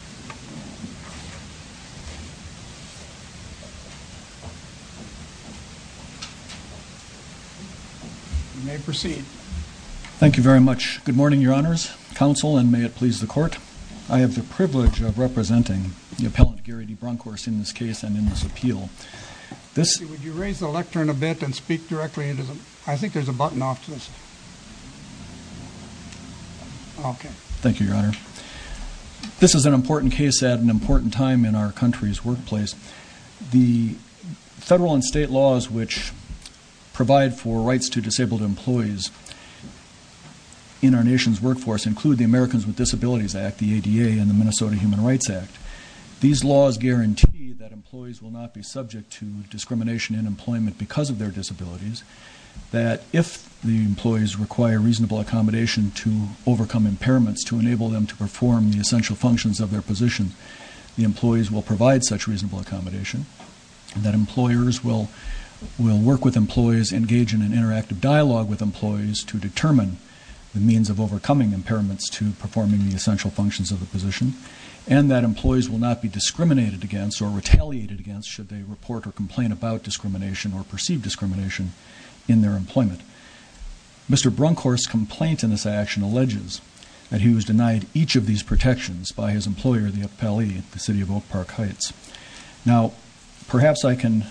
You may proceed. Thank you very much. Good morning, Your Honors, Counsel, and may it please the Court. I have the privilege of representing the appellant Gary D. Brunckhorst in this case and in this appeal. Would you raise the lectern a bit and speak directly into the... I think there's a button off to the side. Okay. Thank you, Your Honor. This is an important case at an important time in our country's workplace. The federal and state laws which provide for rights to disabled employees in our nation's workforce include the Americans with Disabilities Act, the ADA, and the Minnesota Human Rights Act. These laws guarantee that employees will not be subject to discrimination in employment because of their disabilities. If the employees require reasonable accommodation to overcome impairments to enable them to perform the essential functions of their position, the employees will provide such reasonable accommodation, that employers will work with employees, engage in an interactive dialogue with employees to determine the means of overcoming impairments to performing the essential functions of the position, and that employees will not be discriminated against or retaliated against should they report or complain about discrimination or perceive discrimination in their employment. Mr. Brunckhorst's complaint in this action alleges that he was denied each of these protections by his employer, the appellee, the City of Oak Park Heights. Now, perhaps I can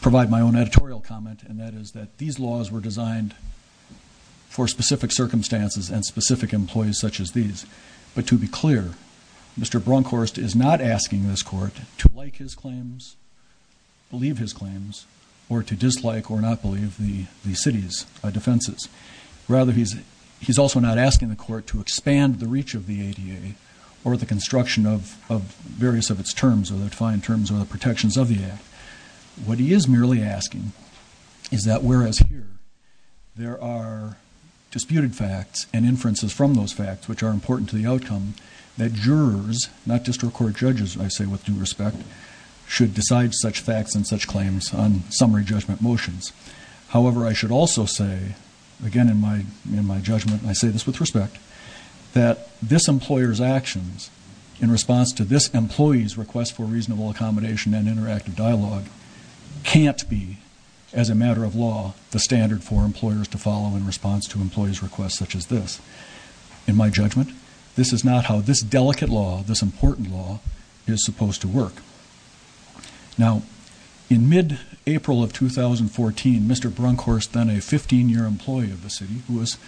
provide my own editorial comment, and that is that these laws were designed for specific circumstances and specific employees such as these. But to be clear, Mr. Brunckhorst is not asking this Court to like his claims, believe his claims, or to dislike or not believe the City's defenses. Rather, he's also not asking the Court to expand the reach of the ADA or the construction of various of its terms or the defined terms or the protections of the Act. What he is merely asking is that whereas here there are disputed facts and inferences from those facts which are important to the outcome, that jurors, not just court judges I say with due respect, should decide such facts and such claims on summary judgment motions. However, I should also say, again in my judgment, and I say this with respect, that this employer's actions in response to this employee's request for reasonable accommodation and interactive dialogue can't be, as a matter of law, the standard for employers to follow in response to employees' requests such as this. In my judgment, this is not how this delicate law, this important law, is supposed to work. Now, in mid-April of 2014, Mr. Brunckhorst, then a 15-year employee of the City who was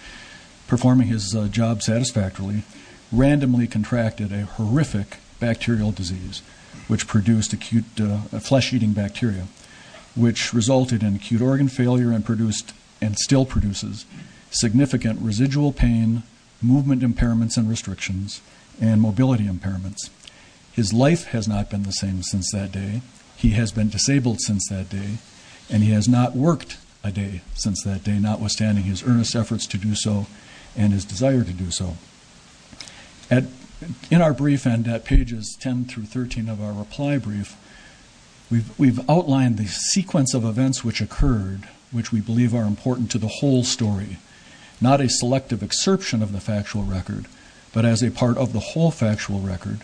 performing his job satisfactorily, randomly contracted a horrific bacterial disease which produced acute flesh-eating bacteria which resulted in acute organ failure and produced, and still produces, significant residual pain, movement impairments and restrictions, and mobility impairments. His life has not been the same since that day. He has been disabled since that day, and he has not worked a day since that day, notwithstanding his earnest efforts to do so and his desire to do so. In our brief and at pages 10 through 13 of our reply brief, we've outlined the sequence of events which occurred, which we believe are important to the whole story, not a selective exception of the factual record, but as a part of the whole factual record,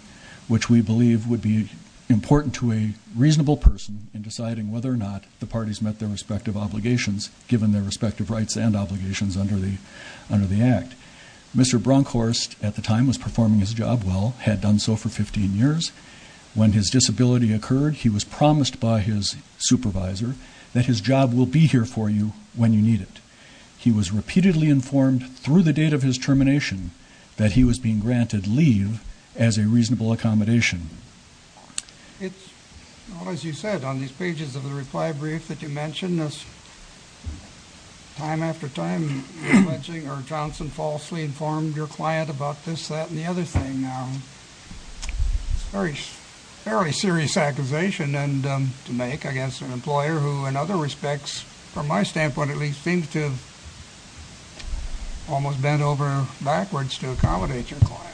which we believe would be important to a reasonable person in deciding whether or not the parties met their respective obligations, given their respective rights and obligations under the Act. Mr. Brunckhorst, at the time, was performing his job well, had done so for 15 years. When his disability occurred, he was promised by his supervisor that his job will be here for you when you need it. He was repeatedly informed through the date of his termination that he was being granted leave as a reasonable accommodation. Well, as you said, on these pages of the reply brief that you mentioned, time after time, you're alleging, or Johnson falsely informed your client about this, that, and the other thing. Very serious accusation to make against an employer who, in other respects, from my standpoint at least, seemed to have almost bent over backwards to accommodate your client.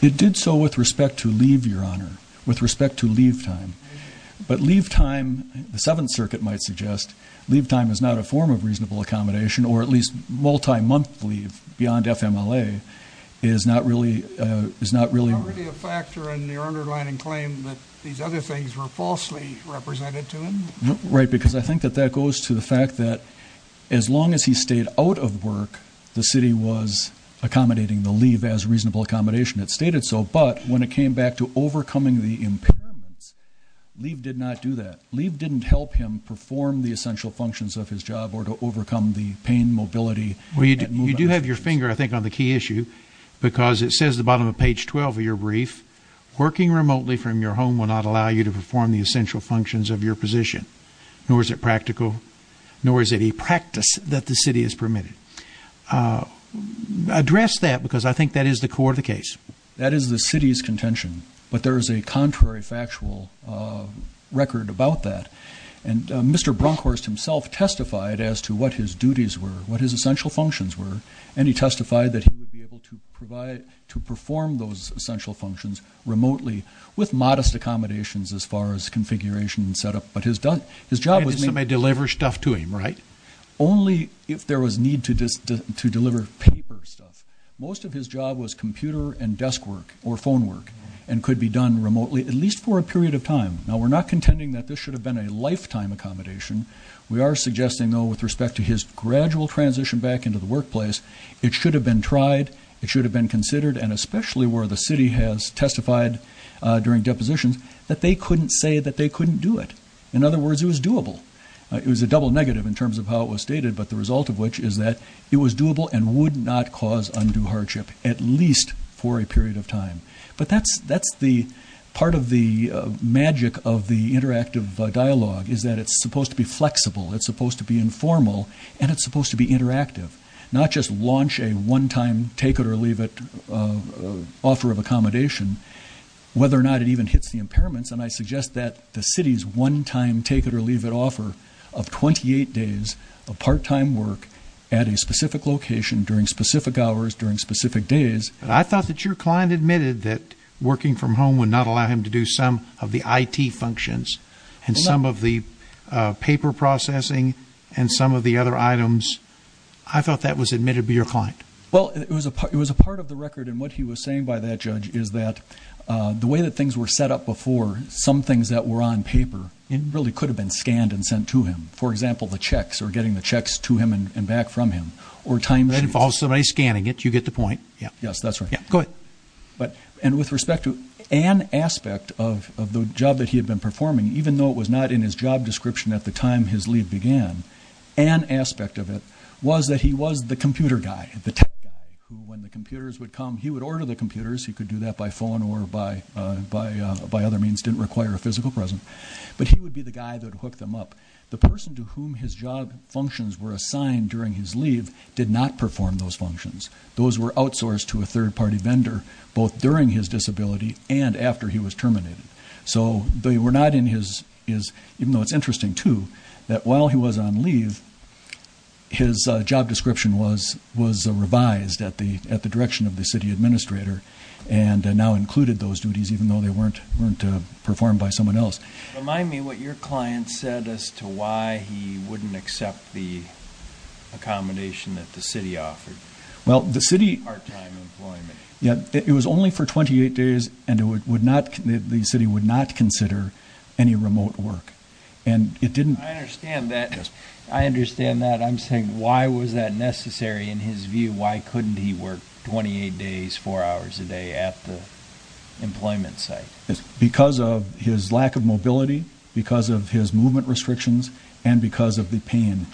It did so with respect to leave, Your Honor, with respect to leave time. But leave time, the Seventh Circuit might suggest, leave time is not a form of reasonable accommodation, or at least multi-month leave, beyond FMLA, is not really a factor in your underlining claim that these other things were falsely represented to him? Right, because I think that that goes to the fact that as long as he stayed out of work, the city was accommodating the leave as reasonable accommodation. It stated so, but when it came back to overcoming the impairments, leave did not do that. Leave didn't help him perform the essential functions of his job, or to overcome the pain, mobility, and movement issues. Well, you do have your finger, I think, on the key issue, because it says at the bottom of page 12 of your brief, working remotely from your home will not allow you to perform the essential functions of your position, nor is it practical, nor is it a practice that the city has permitted. Address that, because I think that is the core of the case. That is the city's contention, but there is a contrary factual record about that. And Mr. Brunkhorst himself testified as to what his duties were, what his essential functions were, and he testified that he would be able to provide, to perform those essential functions remotely with modest accommodations as far as configuration and set up, but his job was made... And somebody delivers stuff to him, right? Only if there was need to deliver paper stuff. Most of his job was computer and desk work, or phone work, and could be done remotely, at least for a period of time. Now, we're not contending that this should have been a lifetime accommodation. We are suggesting, though, with respect to his gradual transition back into the workplace, it should have been tried, it should have been considered, and especially where the city has testified during depositions, that they couldn't say that they couldn't do it. In other words, it was doable. It was a double negative in terms of how it was stated, but the result of which is that it was doable and would not cause undue hardship, at least for a period of time. But that's the... Part of the magic of the interactive dialogue is that it's supposed to be flexible, it's supposed to be informal, and it's supposed to be interactive. Not just launch a one-time take-it-or-leave-it offer of accommodation, whether or not it even hits the impairments, and I suggest that the city's one-time take-it-or-leave-it offer of 28 days of part-time work at a specific location during specific hours, during specific days... I thought that your client admitted that working from home would not allow him to do some of the IT functions, and some of the paper processing, and some of the other items. I thought that was admitted by your client. Well, it was a part of the record, and what he was saying by that, Judge, is that the way that things were set up before, some things that were on paper, it really could have been scanned and sent to him. For example, the checks, or getting the checks to him and back from him, or time sheets. That involves somebody scanning it, you get the point. Yes, that's right. Go ahead. And with respect to an aspect of the job that he had been performing, even though it was not in his job description at the time his leave began, an aspect of it was that he was the computer guy, the tech guy, who when the computers would come, he would order the computers, he could do that by phone or by other means, didn't require a physical present, but he would be the guy that would hook them up. The person to whom his job functions were outsourced to a third-party vendor, both during his disability and after he was terminated. So they were not in his, even though it's interesting too, that while he was on leave, his job description was revised at the direction of the city administrator, and now included those duties, even though they weren't performed by someone else. Remind me what your client said as to why he wouldn't accept the accommodation that the city offered. Well, the city... Part-time employment. Yeah, it was only for 28 days, and it would not, the city would not consider any remote work. And it didn't... I understand that. I understand that. I'm saying, why was that necessary in his view? Why couldn't he work 28 days, four hours a day at the employment site? Because of his lack of mobility, because of his movement restrictions, and because of the pain.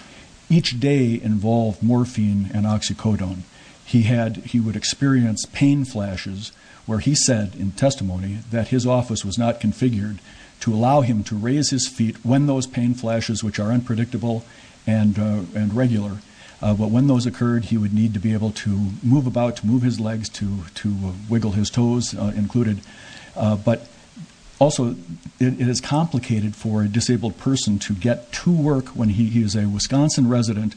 Each day involved morphine and oxycodone. He had, he would experience pain flashes where he said in testimony that his office was not configured to allow him to raise his feet when those pain flashes, which are unpredictable and regular, but when those occurred, he would need to be able to move about, to move his legs, to wiggle his toes But also, it is complicated for a disabled person to get to work when he is a Wisconsin resident,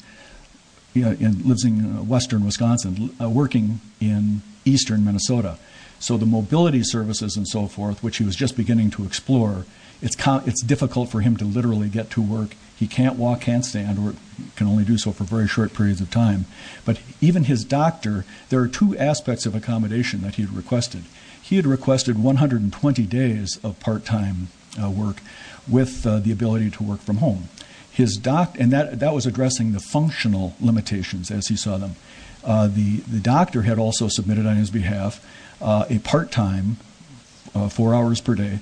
lives in western Wisconsin, working in eastern Minnesota. So the mobility services and so forth, which he was just beginning to explore, it's difficult for him to literally get to work. He can't walk, can't stand, or can only do so for very short periods of time. But even his doctor, there are two aspects of accommodation that he had requested. He had requested 120 days of part-time work with the ability to work from home. And that was addressing the functional limitations, as he saw them. The doctor had also submitted on his behalf a part-time, four hours per day,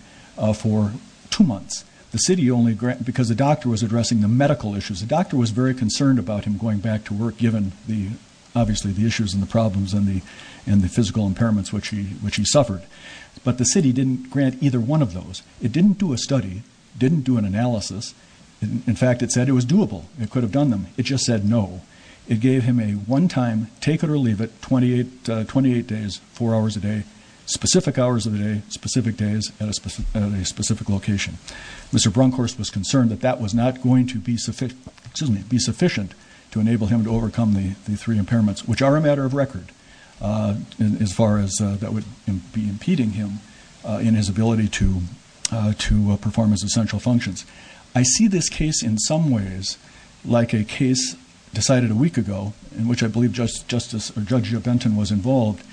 for two months. Because the doctor was addressing the medical issues. The doctor was very concerned about him going back to obviously the issues and the problems and the physical impairments which he suffered. But the city didn't grant either one of those. It didn't do a study. It didn't do an analysis. In fact, it said it was doable. It could have done them. It just said no. It gave him a one-time, take it or leave it, 28 days, four hours a day, specific hours of the day, specific days at a specific location. Mr. Brunkhorst was concerned that that was not going to be sufficient to enable him to overcome the three impairments, which are a matter of record, as far as that would be impeding him in his ability to perform his essential functions. I see this case in some ways like a case decided a week ago, in which I believe Judge Jebentin was involved.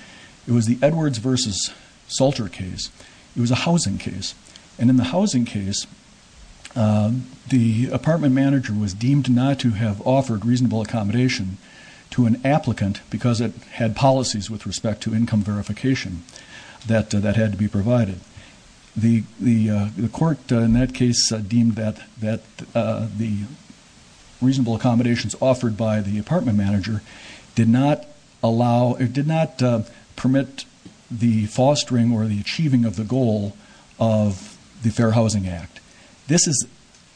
It was the Edwards versus Salter case. It was a housing case. And in the housing case, the apartment manager was deemed not to have offered reasonable accommodation to an applicant because it had policies with respect to income verification that had to be provided. The court in that case deemed that the reasonable accommodations offered by the apartment manager did not permit the fostering or the achieving of the goal of the Fair Housing Act. This is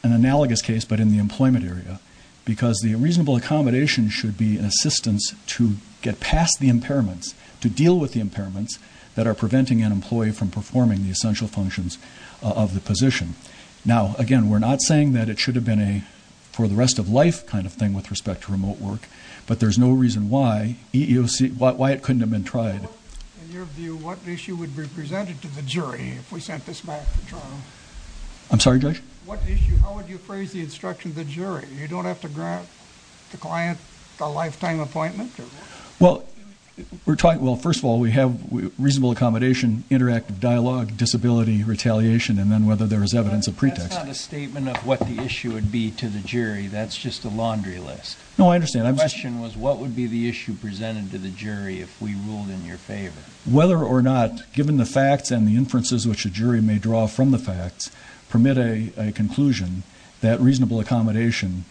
an analogous case, but in the employment area, because the reasonable accommodation should be an assistance to get past the impairments, to deal with the impairments that are preventing an employee from performing the essential functions of the position. Now, again, we're not saying that it should have been a for the rest of life kind of thing with respect to remote work, but there's no reason why it couldn't have been tried. In your view, what issue would be presented to the jury if we sent this back to trial? I'm sorry, Judge? What issue? How would you phrase the instruction of the jury? You don't have to grant the client a lifetime appointment? Well, we're talking, well, first of all, we have reasonable accommodation, interactive dialogue, disability, retaliation, and then whether there is evidence of pretext. That's not a statement of what the issue would be to the jury. That's just a laundry list. No, I understand. What would be the issue presented to the jury if we ruled in your favor? Whether or not, given the facts and the inferences which a jury may draw from the facts, permit a conclusion that reasonable accommodation,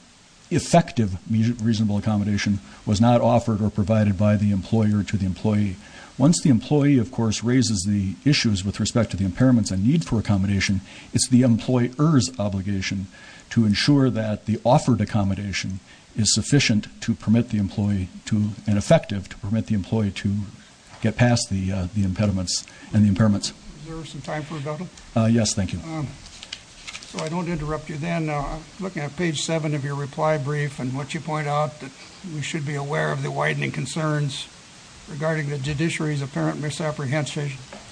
effective reasonable accommodation, was not offered or provided by the employer to the employee. Once the employee, of course, raises the issues with respect to the impairments and need for accommodation, it's the employer's is sufficient to permit the employee to, and effective to permit the employee to get past the impediments and the impairments. Is there some time for a double? Yes, thank you. So I don't interrupt you then. I'm looking at page seven of your reply brief and what you point out that we should be aware of the widening concerns regarding the judiciary's apparent misapprehension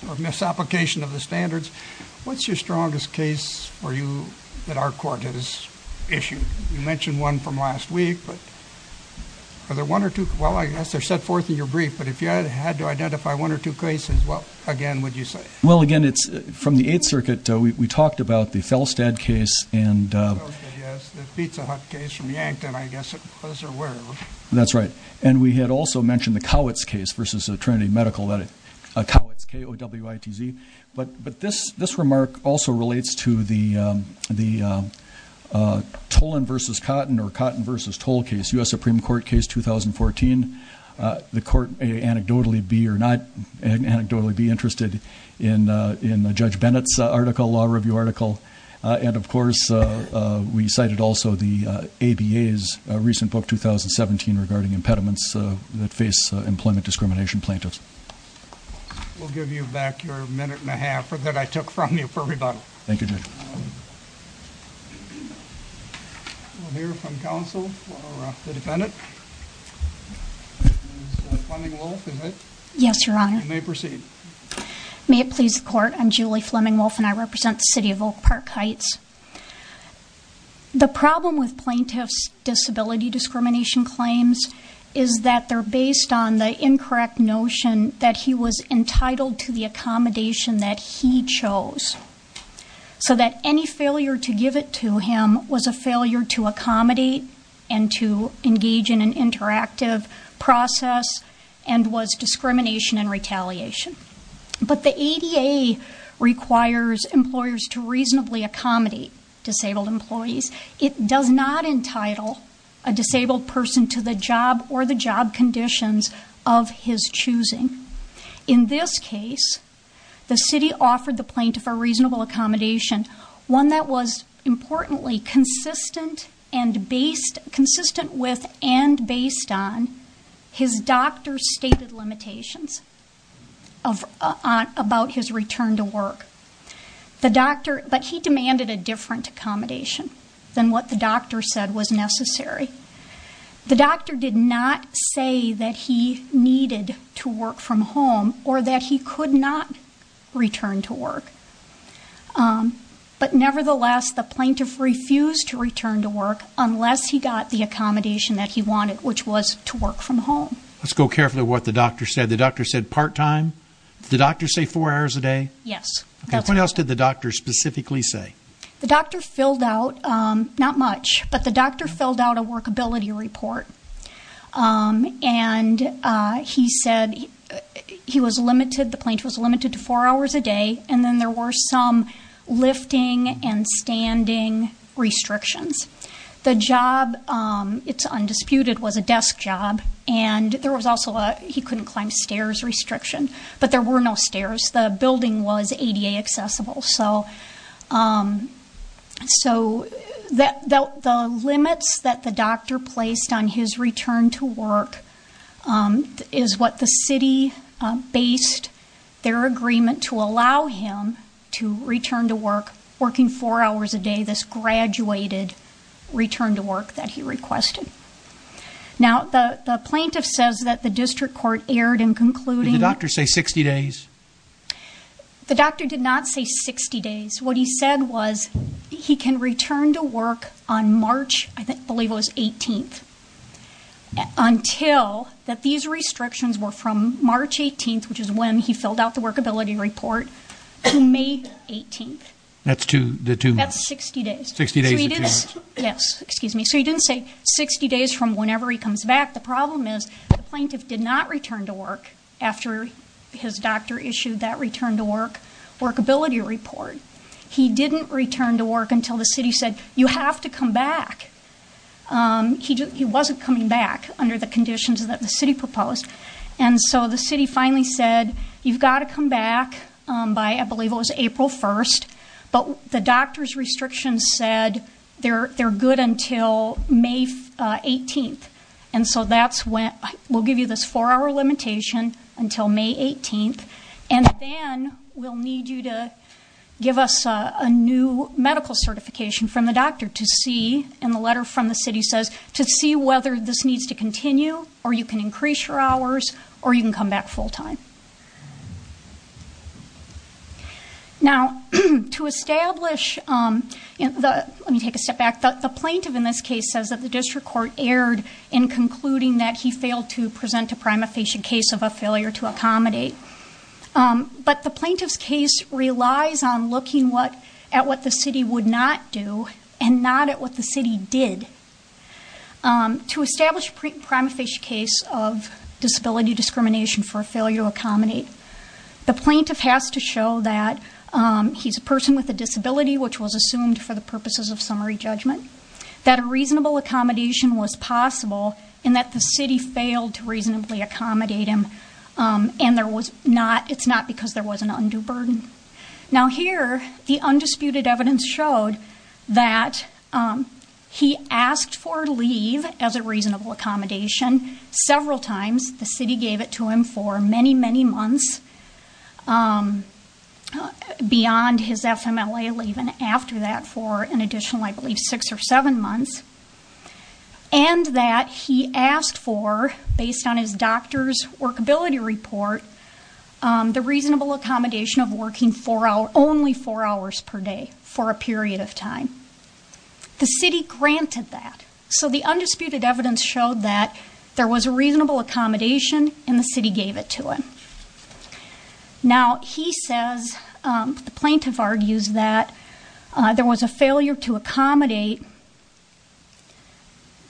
or misapplication of the standards. What's your strongest case for you that our court has issued? You mentioned one from last week, but are there one or two? Well, I guess they're set forth in your brief, but if you had to identify one or two cases, well, again, would you say? Well, again, it's from the Eighth Circuit. We talked about the Felstad case and- Felstad, yes. The Pizza Hut case from Yankton, I guess it was, or wherever. That's right. And we had also mentioned the Cowitz case versus the Trinity Medical, Cowitz, K-O-W-I-T-Z. But this remark also relates to the Tolan versus Cotton or Cotton versus Toll case, U.S. Supreme Court case 2014. The court may anecdotally be or not anecdotally be interested in Judge Bennett's article, law review article. And of course, we cited also the ABA's recent book, 2017, regarding impediments that face employment discrimination plaintiffs. We'll give you back your minute and a half that I took from you for rebuttal. Thank you, Judge. We'll hear from counsel or the defendant. Yes, Your Honor. You may proceed. May it please the court. I'm Julie Fleming Wolfe and I represent the City of Oak Park Heights. The problem with plaintiffs' disability discrimination claims is that they're based on the incorrect notion that he was entitled to the accommodation that he chose. So that any failure to give it to him was a failure to accommodate and to engage in an interactive process and was discrimination and retaliation. But the ADA requires employers to reasonably accommodate disabled employees. It does not entitle a disabled person to the job or the of his choosing. In this case, the city offered the plaintiff a reasonable accommodation, one that was importantly consistent with and based on his doctor's stated limitations about his return to work. But he demanded a different accommodation than what the doctor said was necessary. The doctor did not say that he needed to work from home or that he could not return to work. But nevertheless, the plaintiff refused to return to work unless he got the accommodation that he wanted, which was to work from home. Let's go carefully to what the doctor said. The doctor said part-time? Did the doctor say four hours a day? Yes. What else did the doctor specifically say? The doctor filled out, not much, but the doctor filled out a workability report. And he said he was limited, the plaintiff was limited to four hours a day. And then there were some lifting and standing restrictions. The job, it's undisputed, was a desk job. And there was also a, he couldn't climb stairs restriction. But there were no stairs. The doctor, so the limits that the doctor placed on his return to work is what the city based their agreement to allow him to return to work, working four hours a day, this graduated return to work that he requested. Now, the plaintiff says that the district court erred in concluding... Did the doctor say 60 days? The doctor did not say 60 days. What he said was he can return to work on March, I believe it was 18th, until that these restrictions were from March 18th, which is when he filled out the workability report, to May 18th. That's two, the two months. That's 60 days. 60 days of two months. Yes, excuse me. So he didn't say 60 days from whenever he comes back. The problem is the issued that return to work workability report. He didn't return to work until the city said, you have to come back. He wasn't coming back under the conditions that the city proposed. And so the city finally said, you've got to come back by, I believe it was April 1st. But the doctor's restrictions said they're good until May 18th. And so that's when, we'll you this four-hour limitation until May 18th, and then we'll need you to give us a new medical certification from the doctor to see, and the letter from the city says, to see whether this needs to continue, or you can increase your hours, or you can come back full time. Now, to establish... Let me take a step back. The plaintiff in this case says that the district court erred in concluding that he failed to present a prima facie case of a failure to accommodate. But the plaintiff's case relies on looking at what the city would not do, and not at what the city did. To establish a prima facie case of disability discrimination for a failure to accommodate, the plaintiff has to show that he's a person with a disability, which was assumed for the purposes of summary judgment, that a reasonable accommodation was possible, and that the city failed to reasonably accommodate him, and there was not, it's not because there was an undue burden. Now here, the undisputed evidence showed that he asked for leave as a reasonable accommodation several times. The city gave it to him for many, many months beyond his FMLA leave, and after that for an additional, I believe, six or seven months, and that he asked for, based on his doctor's workability report, the reasonable accommodation of working only four hours per day for a period of time. The city granted that. So the undisputed evidence showed that there was a reasonable accommodation, and the city gave it to him. Now he says, the plaintiff argues, that there was a failure to accommodate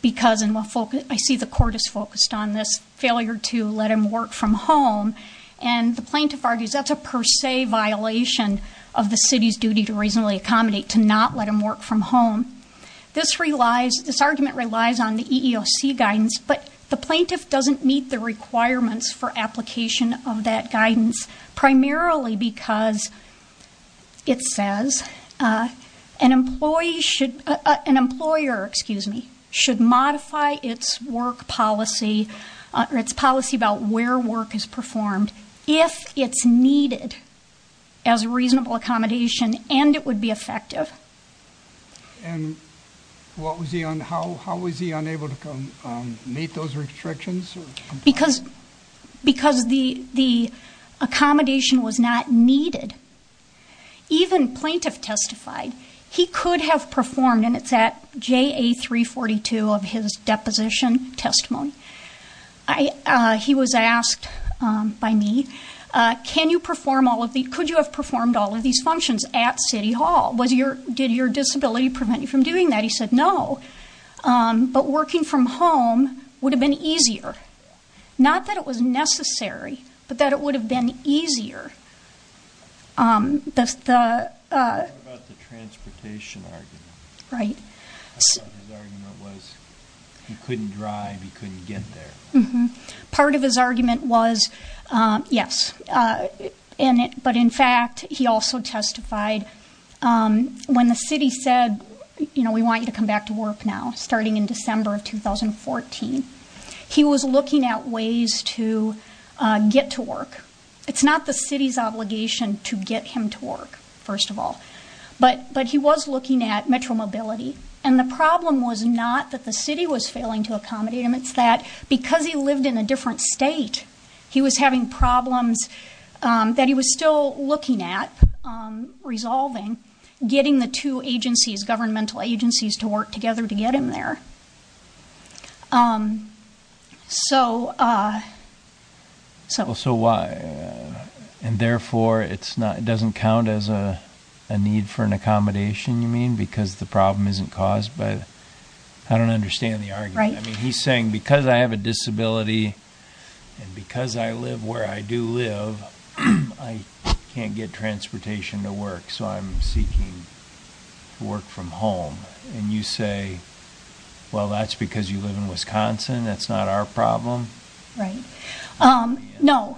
because, and we'll focus, I see the court is focused on this, failure to let him work from home, and the plaintiff argues that's a per se violation of the city's duty to reasonably accommodate, to not let him work from home. This relies, this argument relies on the EEOC guidance, but the plaintiff doesn't meet the requirements for application of that guidance, primarily because it says an employee should, an employer, excuse me, should modify its work policy or its policy about where work is performed if it's needed as a reasonable accommodation, and it effective. And how was he unable to meet those restrictions? Because the accommodation was not needed. Even plaintiff testified, he could have performed, and it's at JA 342 of his deposition testimony, he was asked by me, can you perform all of these, could you have performed all of these functions at City Hall? Was your, did your disability prevent you from doing that? He said, no, but working from home would have been easier. Not that it was necessary, but that it would have been easier. Part of his argument was, he couldn't drive, he couldn't get there. Part of his argument was, yes, but in fact, he also testified, when the city said, you know, we want you to come back to work now, starting in December of 2014, he was looking at ways to get to work. It's not the city's obligation to get him to work, first of all, but he was looking at Metro Mobility, and the problem was not that the city was failing to accommodate him, it's that because he lived in a different state, he was having problems that he was still looking at, resolving, getting the two agencies, governmental agencies, to work together to get him there. So, so. So why, and therefore it's not, it doesn't count as a need for an accommodation, you mean, because the problem isn't caused by, I don't understand the argument. Right. He's saying, because I have a disability, and because I live where I do live, I can't get transportation to work, so I'm seeking work from home. And you say, well, that's because you live in Wisconsin, that's not our problem? Right. No,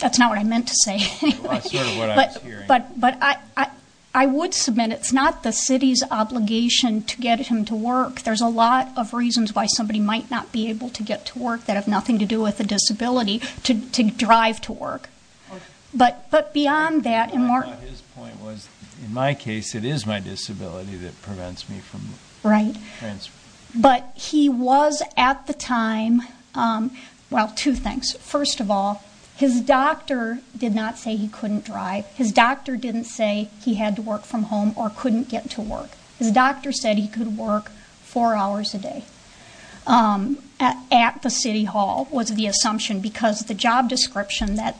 that's not what I meant to say. Well, that's sort of what I was hearing. But I would submit it's not the city's obligation to get him to work. There's a lot of reasons why somebody might not be able to get to work that have nothing to do with a disability to drive to work. But beyond that, and Mark. His point was, in my case, it is my disability that prevents me from. Right. But he was, at the time, well, two things. First of all, his doctor did not say he couldn't drive. His doctor didn't say he had to work from home or couldn't get to work. His doctor said he could work four hours a day at the city hall, was the assumption, because the job description that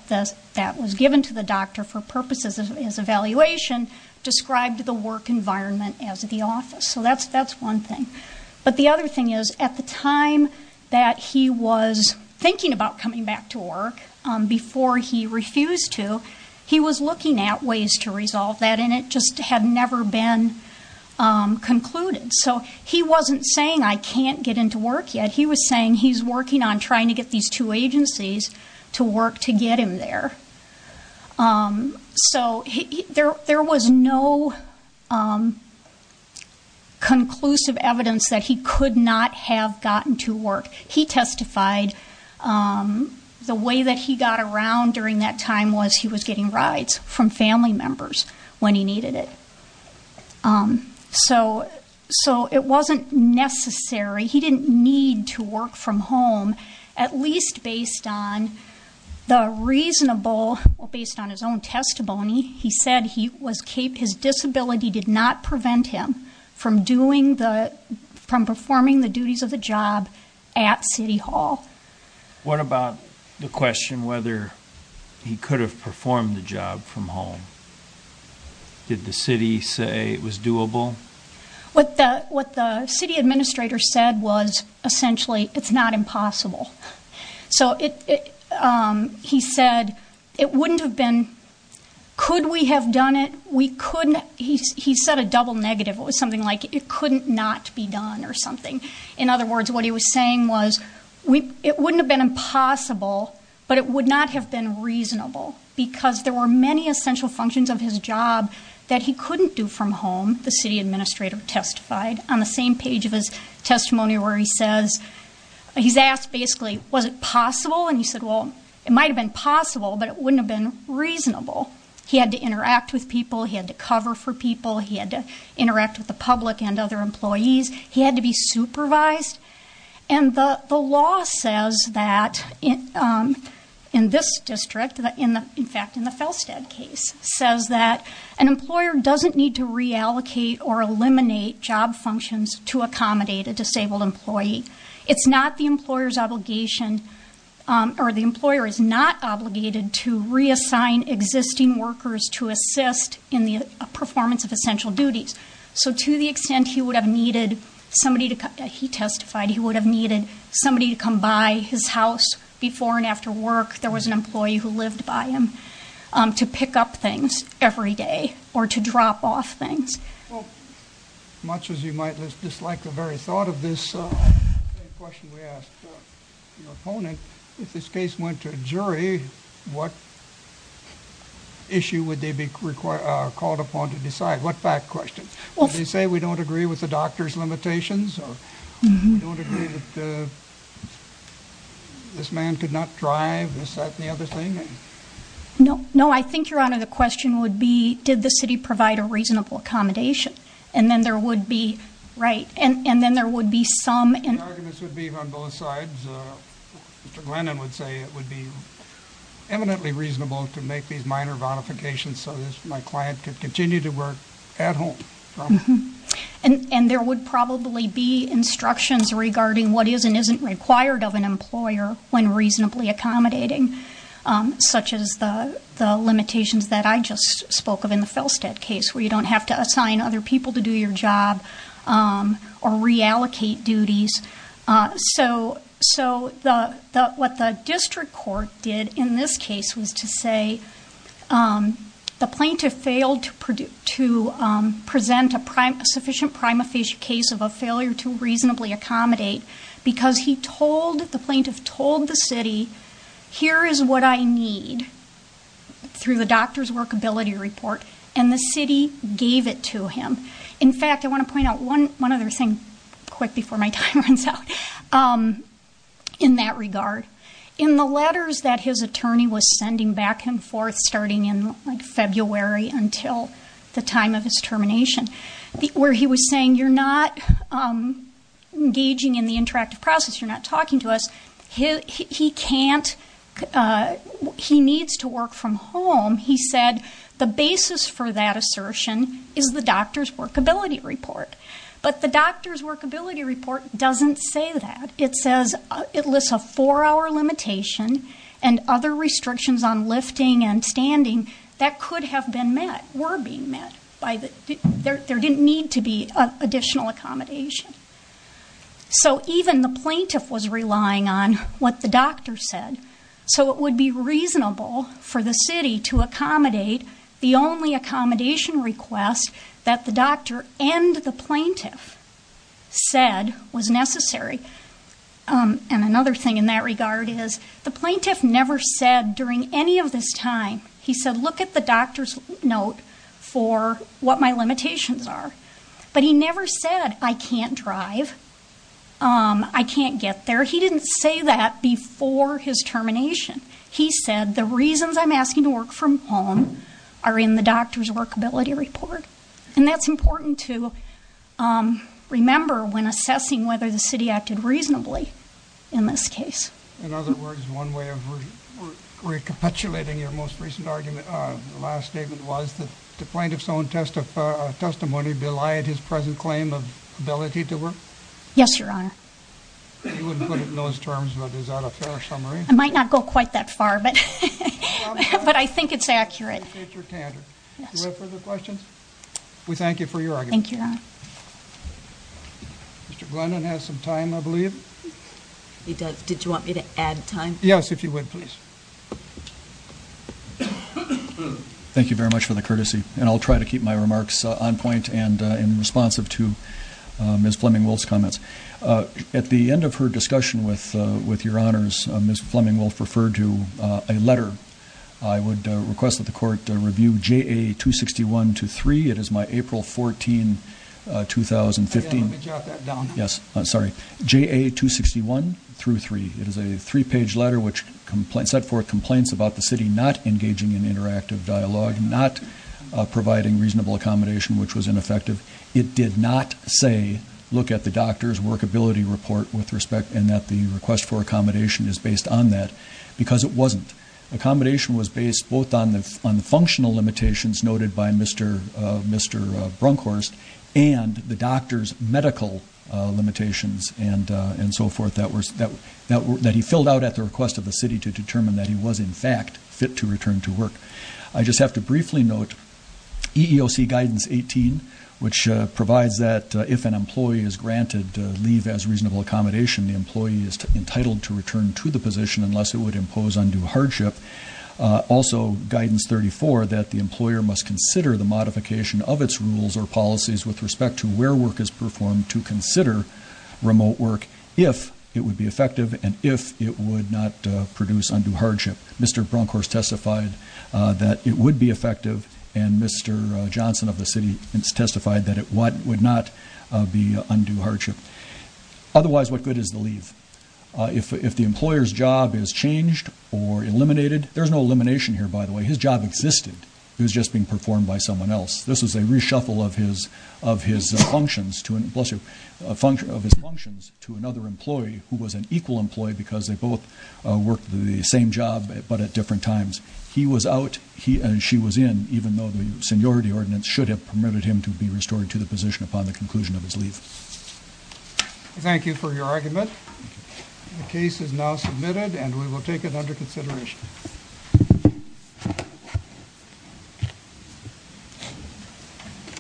was given to the doctor for purposes of his evaluation described the work environment as the office. So that's one thing. But the other thing is, at the time that he was thinking about coming back to work, before he refused to, he was looking at ways to resolve that. And it just had never been concluded. So he wasn't saying I can't get into work yet. He was saying he's working on trying to get these two agencies to work to get him there. So there was no conclusive evidence that he could not have gotten to work. He testified the way that he got around during that time was he was getting rides from family members when he needed it. So it wasn't necessary. He didn't need to work from home, at least based on the reasonable, based on his own testimony. He said his disability did not require him to work at city hall. What about the question whether he could have performed the job from home? Did the city say it was doable? What the city administrator said was essentially it's not impossible. So he said it wouldn't have been, could we have done it? We couldn't. He said a double negative. It was something like it couldn't not be done or something. In other words, what he was saying was it wouldn't have been impossible, but it would not have been reasonable because there were many essential functions of his job that he couldn't do from home. The city administrator testified on the same page of his testimony where he says, he's asked basically, was it possible? And he said, well, it might've been possible, but it wouldn't have been reasonable. He had to interact with other employees. He had to be supervised. And the law says that in this district, in fact, in the Felstead case says that an employer doesn't need to reallocate or eliminate job functions to accommodate a disabled employee. It's not the employer's obligation or the employer is not obligated to reassign existing workers to assist in the performance of essential duties. So to the extent he would have needed somebody to, he testified, he would have needed somebody to come by his house before and after work. There was an employee who lived by him to pick up things every day or to drop off things. Well, much as you might dislike the very thought of this question we asked your opponent, if this case went to a jury, what issue would they be required, called upon to decide? What questions? Well, they say we don't agree with the doctor's limitations or we don't agree that this man could not drive. Is that the other thing? No, no. I think your honor, the question would be, did the city provide a reasonable accommodation? And then there would be right. And then there would be some. And the arguments would be on both sides. Mr. Glennon would say it would be eminently reasonable to make these minor bonifications. So this, my client could work at home. And there would probably be instructions regarding what is and isn't required of an employer when reasonably accommodating, such as the limitations that I just spoke of in the Felstead case, where you don't have to assign other people to do your job or reallocate duties. So, so the, the, what the district court did in this case was to say the plaintiff failed to present a sufficient prima facie case of a failure to reasonably accommodate because he told, the plaintiff told the city, here is what I need through the doctor's workability report. And the city gave it to him. In fact, I want to point out one, one other thing quick before my time runs out. In that regard, in the letters that his attorney was sending back and forth starting in like February until the time of his termination, where he was saying, you're not engaging in the interactive process. You're not talking to us. He can't, he needs to work from home. He said the basis for that assertion is the doctor's workability report, but the doctor's workability report doesn't say that. It says it lists a four hour limitation and other restrictions on lifting and standing that could have been met, were being met by the, there didn't need to be additional accommodation. So even the plaintiff was relying on what the doctor said. So it would be reasonable for the city to accommodate the only accommodation request that the doctor and the plaintiff said was necessary. And another thing in that regard is the plaintiff never said during any of this time, he said, look at the doctor's note for what my limitations are, but he never said, I can't drive. I can't get there. He didn't say that before his termination. He said, the reasons I'm asking to work from home are in the doctor's workability report. And that's important to remember when assessing whether the city acted reasonably in this case. In other words, one way of recapitulating your most recent argument, the last statement was that the plaintiff's own testimony belied his present claim of ability to work? Yes, your honor. You wouldn't put it in those terms, but is that a fair summary? I might not go quite that far, but I think it's accurate. I appreciate your candor. Do you have further questions? We thank you for your argument. Thank you, your honor. Mr. Glennon has some time, I believe. He does. Did you want me to add time? Yes, if you would, please. Thank you very much for the courtesy. And I'll try to keep my remarks on point and in responsive to Ms. Fleming-Wolf's comments. At the end of her discussion with your honors, Ms. Fleming-Wolf referred to a letter. I would request that the court review JA-261-3. It is my April 14, 2015- Yeah, let me jot that down. Yes, sorry. JA-261-3. It is a three-page letter which set forth complaints about the city not engaging in interactive dialogue, not providing reasonable accommodation, which was ineffective. It did not say, look at the doctor's workability report with respect, and that the request for accommodation is based on that, because it wasn't. Accommodation was based both on the functional limitations noted by Mr. Brunkhorst and the doctor's medical limitations and so forth that he filled out at the request of the city to determine that he was in fact fit to return to work. I just have to briefly note EEOC guidance 18, which provides that if an employee is granted leave as reasonable accommodation, the employee is entitled to return to the position unless it would impose undue hardship. Also, guidance 34, that the employer must consider the modification of its rules or policies with respect to where work is performed to consider remote work if it would be effective and if it would not produce undue hardship. Mr. Brunkhorst testified that it would be effective, and Mr. Johnson of the city testified that it would not be undue hardship. Otherwise, what good is the leave? If the employer's job is changed or eliminated, there's no elimination here, by the way. His job existed. It was just being performed by someone else. This is a reshuffle of his functions to another employee who was an equal employee because they both worked the same job but at different times. He was out, she was in, even though the seniority ordinance should have permitted him to be restored to the position upon the conclusion of his leave. Thank you for your argument. The case is now submitted and we will take it under consideration.